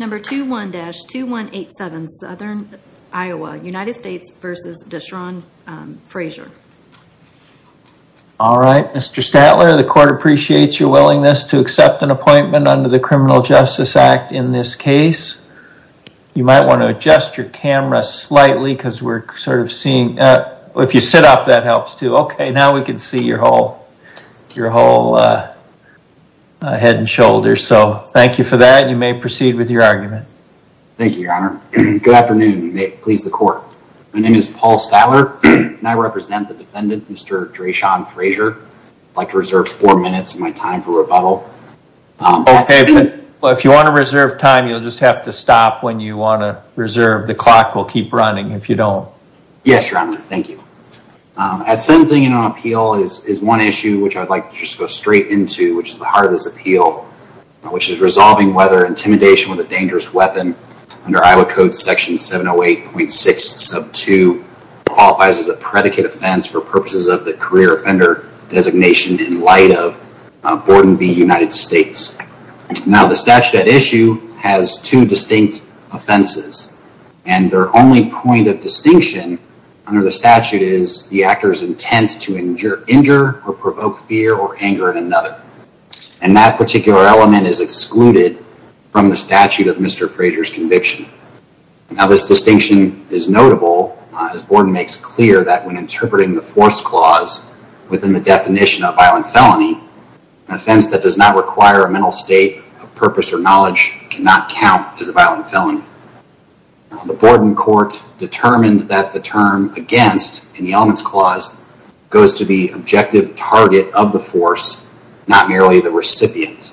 All right, Mr. Statler, the court appreciates your willingness to accept an appointment under the Criminal Justice Act in this case. You might want to adjust your camera slightly because we're sort of seeing, if you sit up that helps too. Okay, now we can see your whole head and shoulders. So thank you for that. You may proceed with your argument. Thank you, Your Honor. Good afternoon. You may please the court. My name is Paul Statler and I represent the defendant, Mr. Dreshon Frazier. I'd like to reserve four minutes of my time for rebuttal. Okay, but if you want to reserve time, you'll just have to stop when you want to reserve. The clock will keep running if you don't. Yes, Your Honor. Thank you. At sentencing and on appeal is one issue which I'd like to just go straight into, which is the hardest appeal, which is resolving whether intimidation with a dangerous weapon under Iowa Code Section 708.6 sub 2 qualifies as a predicate offense for purposes of the career offender designation in light of Board and v. United States. Now the statute at issue has two distinct offenses and their only point of distinction under the statute is the actor's intent to injure or provoke fear or anger at another. And that particular element is excluded from the statute of Mr. Frazier's conviction. Now this distinction is notable as Board makes clear that when interpreting the force clause within the definition of violent felony, an offense that does not require a mental state of purpose or knowledge cannot count as a violent felony. The Board in court determined that the term against in the elements clause goes to the objective target of the force, not merely the recipient.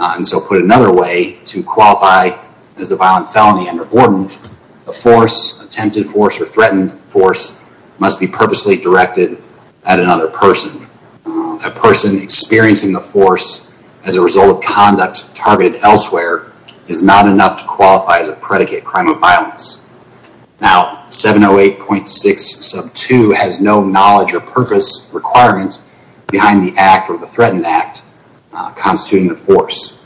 And so put another way to qualify as a violent felony under Board, a force, attempted force or threatened force must be purposely directed at another person. A person experiencing the force as a result of conduct targeted elsewhere is not enough to qualify as a predicate crime of violence. Now 708.6 sub 2 has no knowledge or purpose requirements behind the act or the threatened act constituting the force.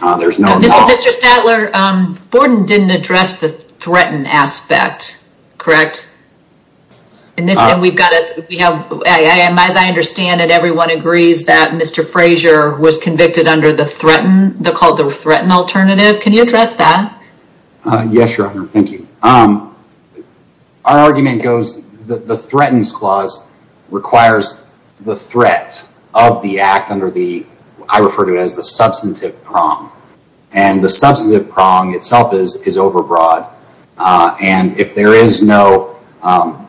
There's no law. Mr. Stadler, Board didn't address the threatened aspect, correct? And this time we've got it. We have, as I understand it, everyone agrees that Mr. Frazier was convicted under the threatened, the called the threatened alternative. Can you address that? Uh, yes, your honor. Thank you. Um, our argument goes that the threatens clause requires the threat of the act under the, I refer to it as the substantive prong itself is, is overbroad. Uh, and if there is no, um,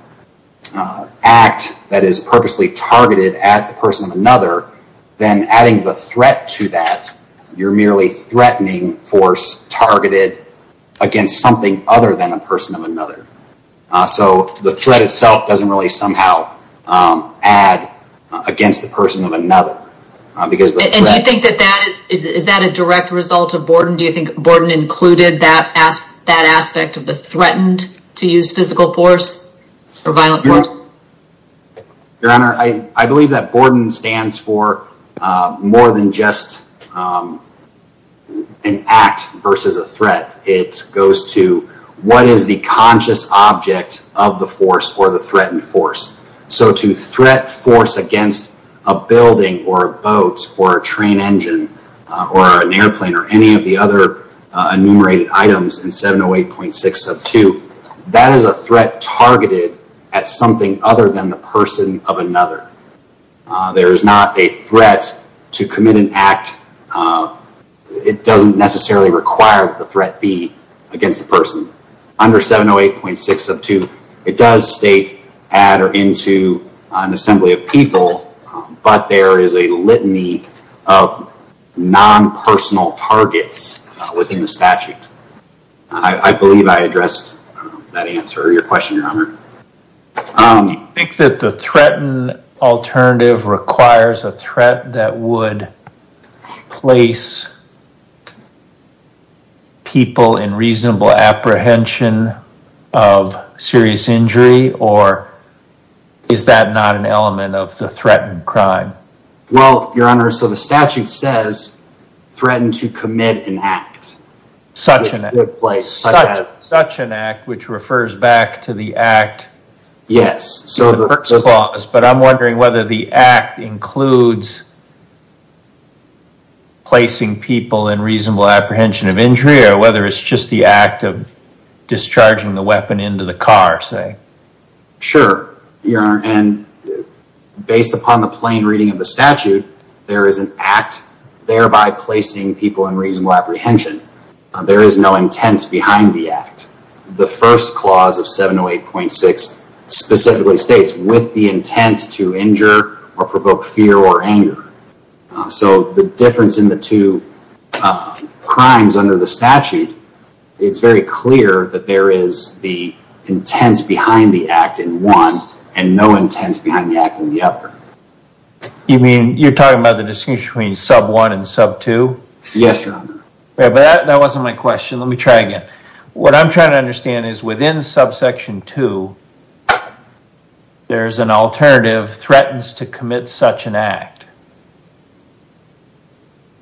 uh, act that is purposely targeted at the person of another, then adding the threat to that, you're merely threatening force targeted against something other than a person of another. Uh, so the threat itself doesn't really somehow, um, add against the person of another, uh, because you think that that is, is, is that a direct result of Borden? Do you think Borden included that ask that aspect of the threatened to use physical force for violent court? Your honor, I, I believe that Borden stands for, uh, more than just, um, an act versus a threat. It goes to what is the conscious object of the force or the threatened force. So to threat force against a building or a boat or a train engine, uh, or an airplane or any of the other, uh, enumerated items in 708.6 of two, that is a threat targeted at something other than the person of another. Uh, there is not a threat to commit an act. Uh, it doesn't necessarily require the threat be against the person under 708.6 of two. It does state add or into an assembly of people, but there is a litany of non-personal targets within the statute. I believe I addressed that answer to your question, your honor. Um, you think that the threatened alternative requires a threat that would place people in Is that not an element of the threatened crime? Well, your honor. So the statute says threatened to commit an act. Such an act, such an act, which refers back to the act. Yes. But I'm wondering whether the act includes placing people in reasonable apprehension of injury or whether it's just the act of discharging the weapon into the car, say. Sure, your honor. And based upon the plain reading of the statute, there is an act thereby placing people in reasonable apprehension. Uh, there is no intent behind the act. The first clause of 708.6 specifically states with the intent to injure or provoke fear or anger. Uh, so the difference in the two, uh, crimes under the statute, it's very clear that there is the intent behind the act in one and no intent behind the act in the other. You mean you're talking about the distinction between sub one and sub two? Yes, your honor. But that wasn't my question. Let me try again. What I'm trying to understand is within subsection two, there's an alternative threatens to commit such an act.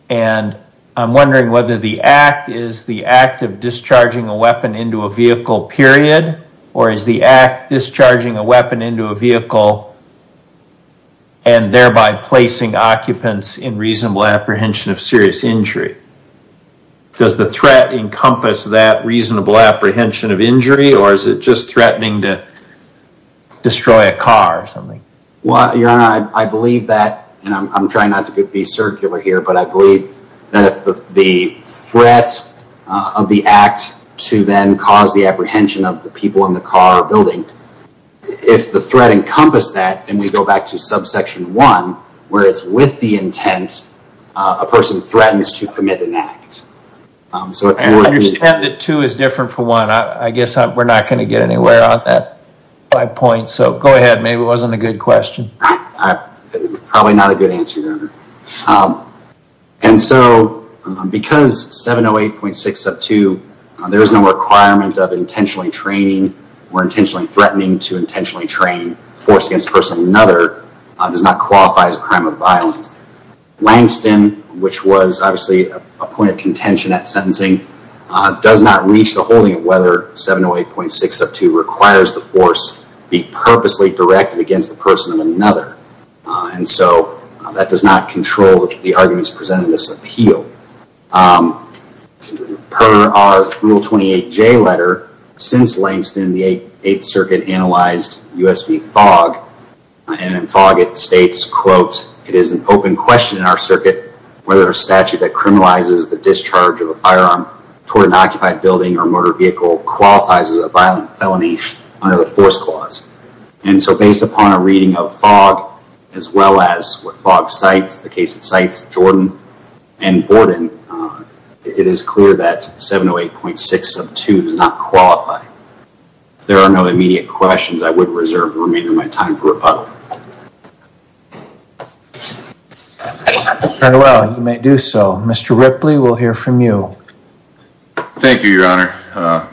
And I'm wondering whether the act is the act of discharging a weapon into a vehicle period or is the act discharging a weapon into a vehicle and thereby placing occupants in reasonable apprehension of serious injury. Does the threat encompass that reasonable apprehension of injury or is it just threatening to destroy a car or something? Well, your honor, I believe that, and I'm trying not to be circular here, but I believe that if the threat of the act to then cause the apprehension of the people in the car building, if the threat encompass that and we go back to subsection one where it's with the intent, a person threatens to commit an act. I understand that two is different for one. I guess we're not going to get anywhere on that by point. So go ahead. Maybe it wasn't a good question. Probably not a good answer, your honor. And so because 708.6 sub two, there is no requirement of intentionally training or intentionally threatening to intentionally train force against a person of another does not qualify as a crime of violence. Langston, which was obviously a point of contention at sentencing, does not reach the holding of whether 708.6 sub two requires the force be purposely directed against the person of another. And so that does not control the arguments presented in this appeal. Per our rule 28 J letter, since Langston, the eighth circuit analyzed USB fog and fog, it states, quote, it is an open question in our circuit, whether a statute that criminalizes the discharge of a firearm toward an occupied building or motor vehicle qualifies as a violent felony under the force clause. And so based upon a reading of fog, as well as what fog cites, the case it cites Jordan and Gordon, it is clear that 708.6 sub two does not qualify. There are no immediate questions. I would reserve the remainder of my time for rebuttal. And well, you may do so. Mr. Ripley, we'll hear from you. Thank you, your honor.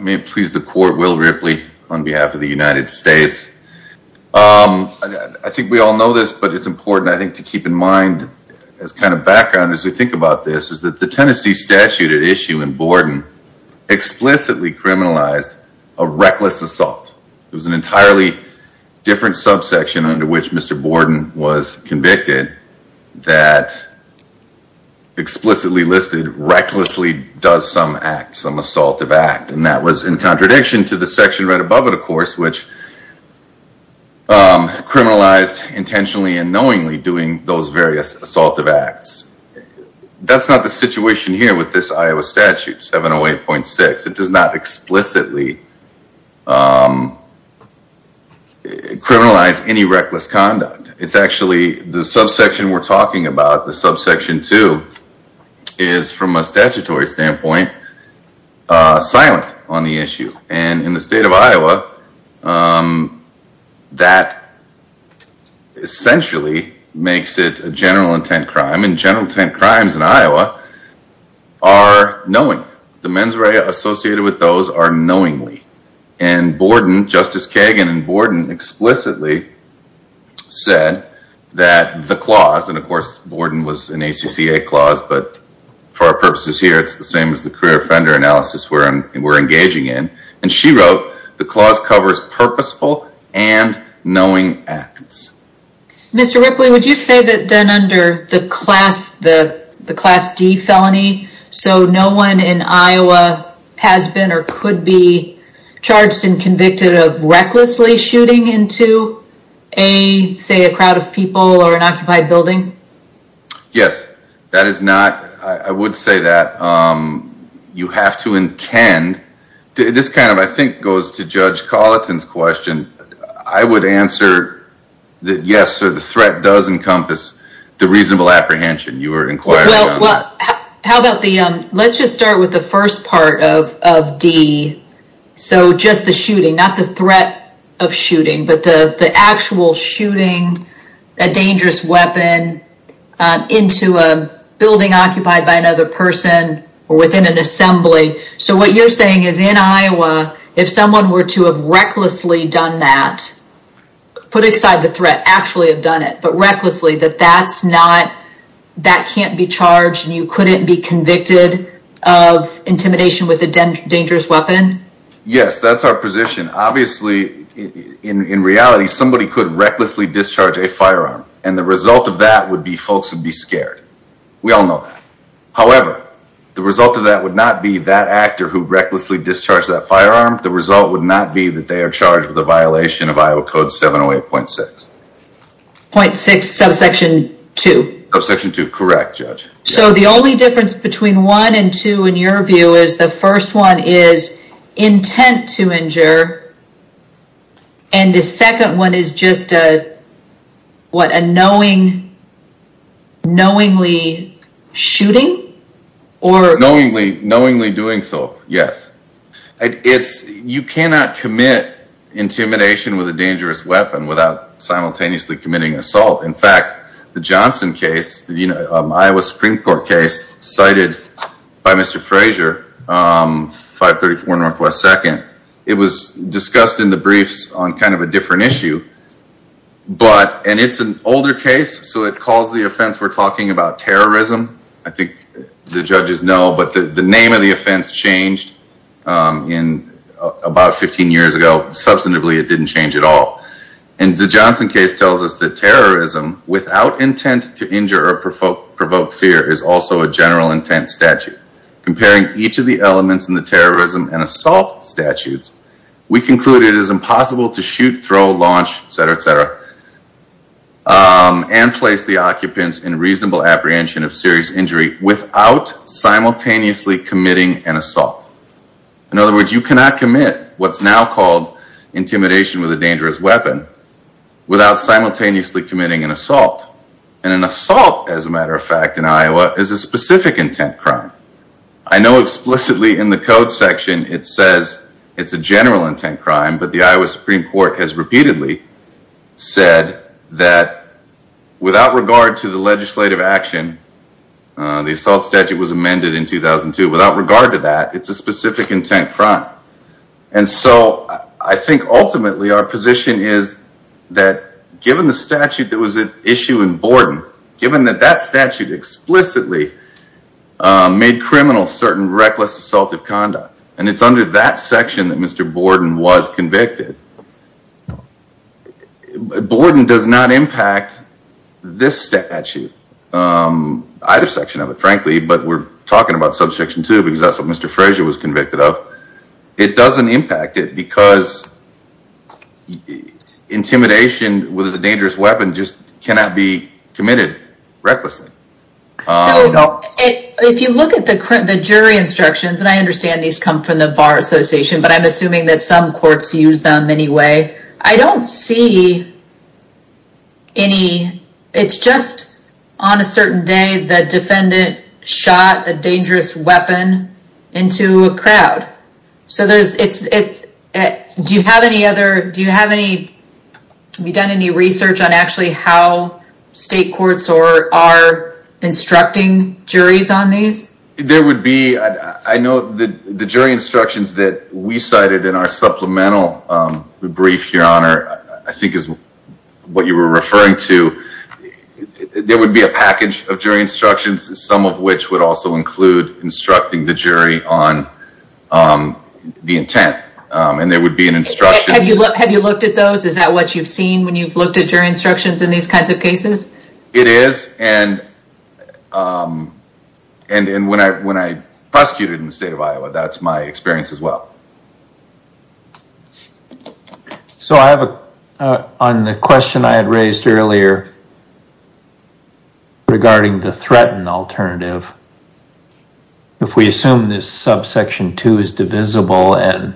May it please the court, Will Ripley on behalf of the United States. I think we all know this, but it's important, I think, to keep in mind as kind of background as we think about this is that the Tennessee statute at issue in Borden explicitly criminalized a reckless assault. It was an entirely different subsection under which Mr. Borden was convicted that explicitly listed recklessly does some act, some assault of act. And that was in contradiction to the section right above it, of course, which criminalized intentionally and knowingly doing those various assaultive acts. That's not the situation here with this Iowa statute 708.6. It does not explicitly criminalize any reckless conduct. It's actually the subsection we're in the state of Iowa that essentially makes it a general intent crime. And general intent crimes in Iowa are knowing. The mens rea associated with those are knowingly. And Borden, Justice Kagan and Borden explicitly said that the clause, and of course, Borden was an ACCA clause, but for our the clause covers purposeful and knowing acts. Mr. Ripley, would you say that then under the class D felony, so no one in Iowa has been or could be charged and convicted of recklessly shooting into a, say, a crowd of people or an occupied building? Yes, that is not, I would say that you have to intend. This kind of, I think, goes to Judge Colleton's question. I would answer that yes, so the threat does encompass the reasonable apprehension you were inquiring on. Well, how about the, let's just start with the first part of D. So just the shooting, not the threat of shooting, but the actual shooting a dangerous weapon into a building occupied by another person or within an assembly. So what you're saying is in Iowa, if someone were to have recklessly done that, put aside the threat, actually have done it, but recklessly, that that's not, that can't be charged and you couldn't be convicted of intimidation with a dangerous weapon? Yes, that's our position. Obviously, in reality, somebody could recklessly discharge a firearm. And the result of that would be folks would be However, the result of that would not be that actor who recklessly discharged that firearm. The result would not be that they are charged with a violation of Iowa Code 708.6. Point six, subsection two. Subsection two, correct, Judge. So the only difference between one and two in your view is the first one is intent to injure and the second one is just a, what a knowing, knowingly shooting or knowingly, knowingly doing so? Yes. It's you cannot commit intimidation with a dangerous weapon without simultaneously committing assault. In fact, the Johnson case, you know, Iowa Supreme Court case cited by Mr. Frazier, 534 Northwest second. It was discussed in the briefs on kind of a different issue, but, and it's an older case. So it calls the offense we're talking about terrorism. I think the judges know, but the name of the offense changed in about 15 years ago. Substantively, it didn't change at all. And the Johnson case tells us that terrorism without intent to injure or provoke fear is also a general intent statute. Comparing each of the elements in the terrorism and assault statutes, we concluded it is impossible to shoot, throw, launch, et cetera, et cetera, and place the occupants in reasonable apprehension of serious injury without simultaneously committing an assault. In other words, you cannot commit what's now called intimidation with a dangerous weapon without simultaneously committing an assault. And an assault, as a matter of fact, in Iowa is a specific intent crime. I know explicitly in the code section, it says it's a general intent crime, but the Iowa Supreme Court has repeatedly said that without regard to the legislative action, the assault statute was amended in 2002. Without regard to that, it's a specific intent crime. And so I think ultimately our position is that given the statute that was at issue in Borden, given that that statute explicitly made criminal certain reckless assaultive conduct, and it's under that section that Mr. Borden was convicted. Borden does not impact this statute, either section of it, frankly, but we're talking about section two, because that's what Mr. Frazier was convicted of. It doesn't impact it because intimidation with a dangerous weapon just cannot be committed recklessly. If you look at the jury instructions, and I understand these come from the Bar Association, but I'm assuming that some courts use them anyway. I don't see any, it's just on a certain day, the defendant shot a dangerous weapon into a crowd. So do you have any other, do you have any, have you done any research on actually how state courts are instructing juries on these? There would be, I know the jury instructions that we cited in our supplemental brief, your honor, I think is what you were referring to. There would be a package of jury instructions, some of which would also include instructing the jury on the intent. And there would be an instruction. Have you looked at those? Is that what you've seen when you've looked at jury instructions in these kinds of cases? It is. And when I prosecuted in the state of Iowa, that's my experience as well. So I have a, on the question I had raised earlier regarding the threatened alternative, if we assume this subsection two is divisible and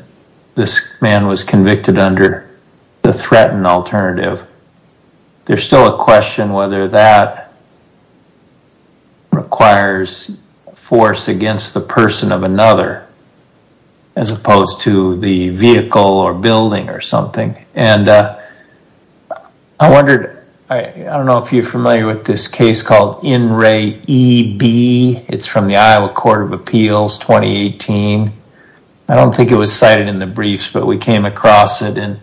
this man was convicted under the threatened alternative, there's still a question whether that requires force against the person of another as opposed to the vehicle or building or something. And I wondered, I don't know if you're familiar with this case called In Re E B, it's from the Iowa Court of Appeals 2018. I don't think it was cited in the briefs, but we came across it and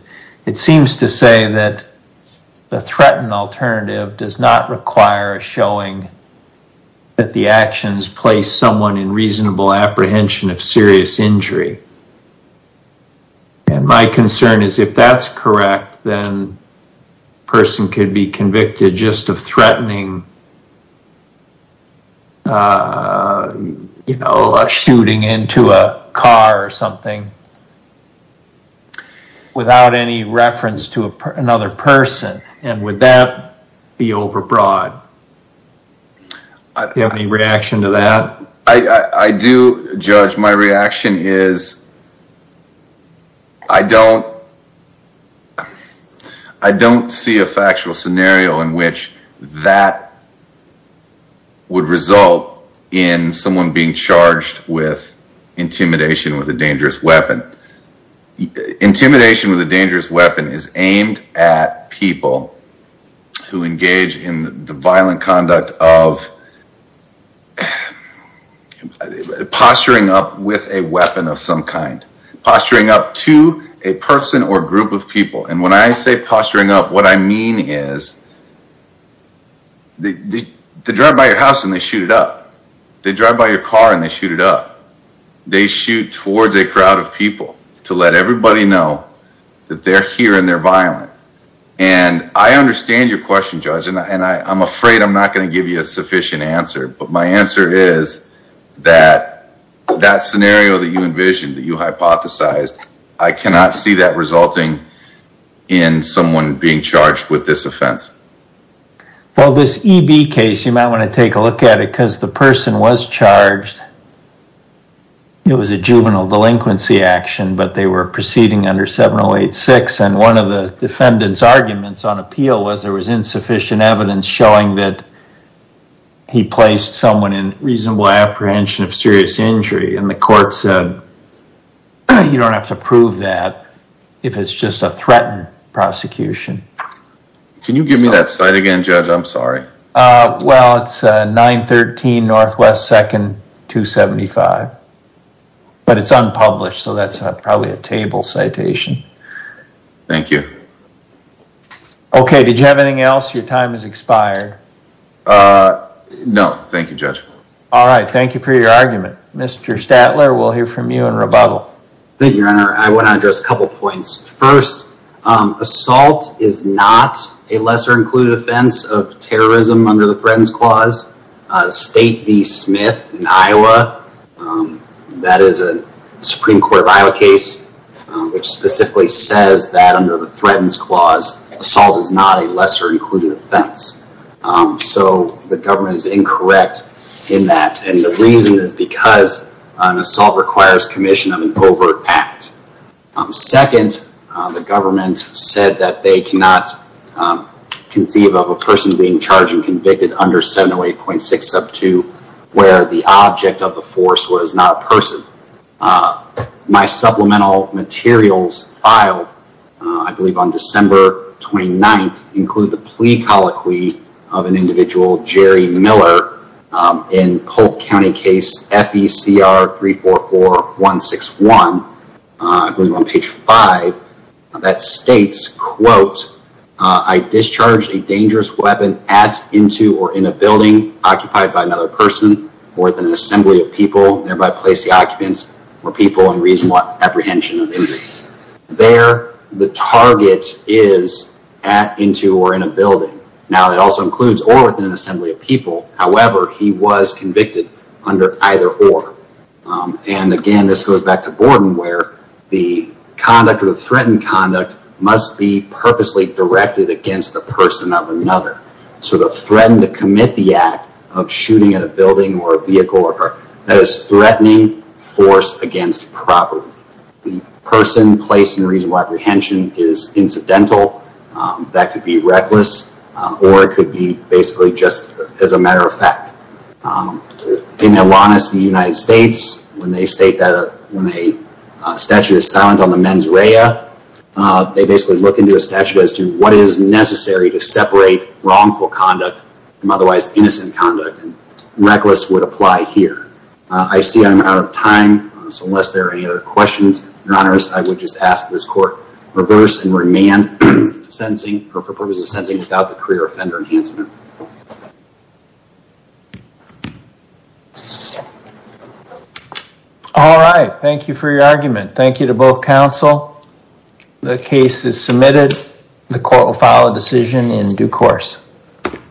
it seems to say that the threatened alternative does not require a showing that the actions place someone in reasonable apprehension of serious injury. And my concern is if that's correct, then the person could be convicted just of threatening a shooting into a car or something without any reference to another person. And would that be overbroad? Do you have any reaction to that? I do, Judge. My reaction is I don't, I don't see a factual scenario in which that would result in someone being charged with intimidation with a dangerous weapon. Intimidation with a dangerous weapon is aimed at people who engage in the violent conduct of a, posturing up with a weapon of some kind, posturing up to a person or group of people. And when I say posturing up, what I mean is they drive by your house and they shoot it up. They drive by your car and they shoot it up. They shoot towards a crowd of people to let everybody know that they're here and they're violent. And I understand your question, and I'm afraid I'm not going to give you a sufficient answer, but my answer is that that scenario that you envisioned, that you hypothesized, I cannot see that resulting in someone being charged with this offense. Well, this EB case, you might want to take a look at it because the person was charged. It was a juvenile delinquency action, but they were proceeding under 7086. And one of the defendant's arguments on appeal was there was insufficient evidence showing that he placed someone in reasonable apprehension of serious injury. And the court said, you don't have to prove that if it's just a threatened prosecution. Can you give me that site again, Judge? I'm sorry. Well, it's 913 Northwest 2nd, 275, but it's unpublished. So that's probably a table citation. Thank you. Okay. Did you have anything else? Your time has expired. Uh, no. Thank you, Judge. All right. Thank you for your argument. Mr. Statler, we'll hear from you in rebuttal. Thank you, Your Honor. I want to address a couple points. First, assault is not a lesser included offense of terrorism under the Threatened Clause. State v. Smith in Iowa, that is a Supreme Court of Iowa case, which specifically says that under the Threatened Clause, assault is not a lesser included offense. So the government is incorrect in that. And the reason is because an assault requires commission of an overt act. Second, the government said that they cannot conceive of a person being charged and convicted under 708.6 sub 2, where the object of the force was not a person. My supplemental materials filed, I believe on December 29th, include the plea colloquy of an individual, Jerry Miller, in Polk County case FECR 344161, I believe on page five, that states, quote, I discharged a dangerous weapon at, into, or in a building occupied by another person, or within an assembly of people, thereby place the occupants or people in reasonable apprehension of injuries. There, the target is at, into, or in a building. Now that also includes or within an assembly of people. However, he was convicted under either or. And again, this goes back to the person of another. So to threaten to commit the act of shooting at a building or a vehicle or car, that is threatening force against property. The person placed in reasonable apprehension is incidental. That could be reckless, or it could be basically just as a matter of fact. In their honest, the United States, when they state that a statute is silent on the mens rea, they basically look into a statute as to what is necessary to separate wrongful conduct from otherwise innocent conduct. Reckless would apply here. I see I'm out of time. So unless there are any other questions, your honors, I would just ask this court reverse and remand sentencing for purposes of sentencing without the career offender enhancement. All right. Thank you for your The case is submitted. The court will file a decision in due course.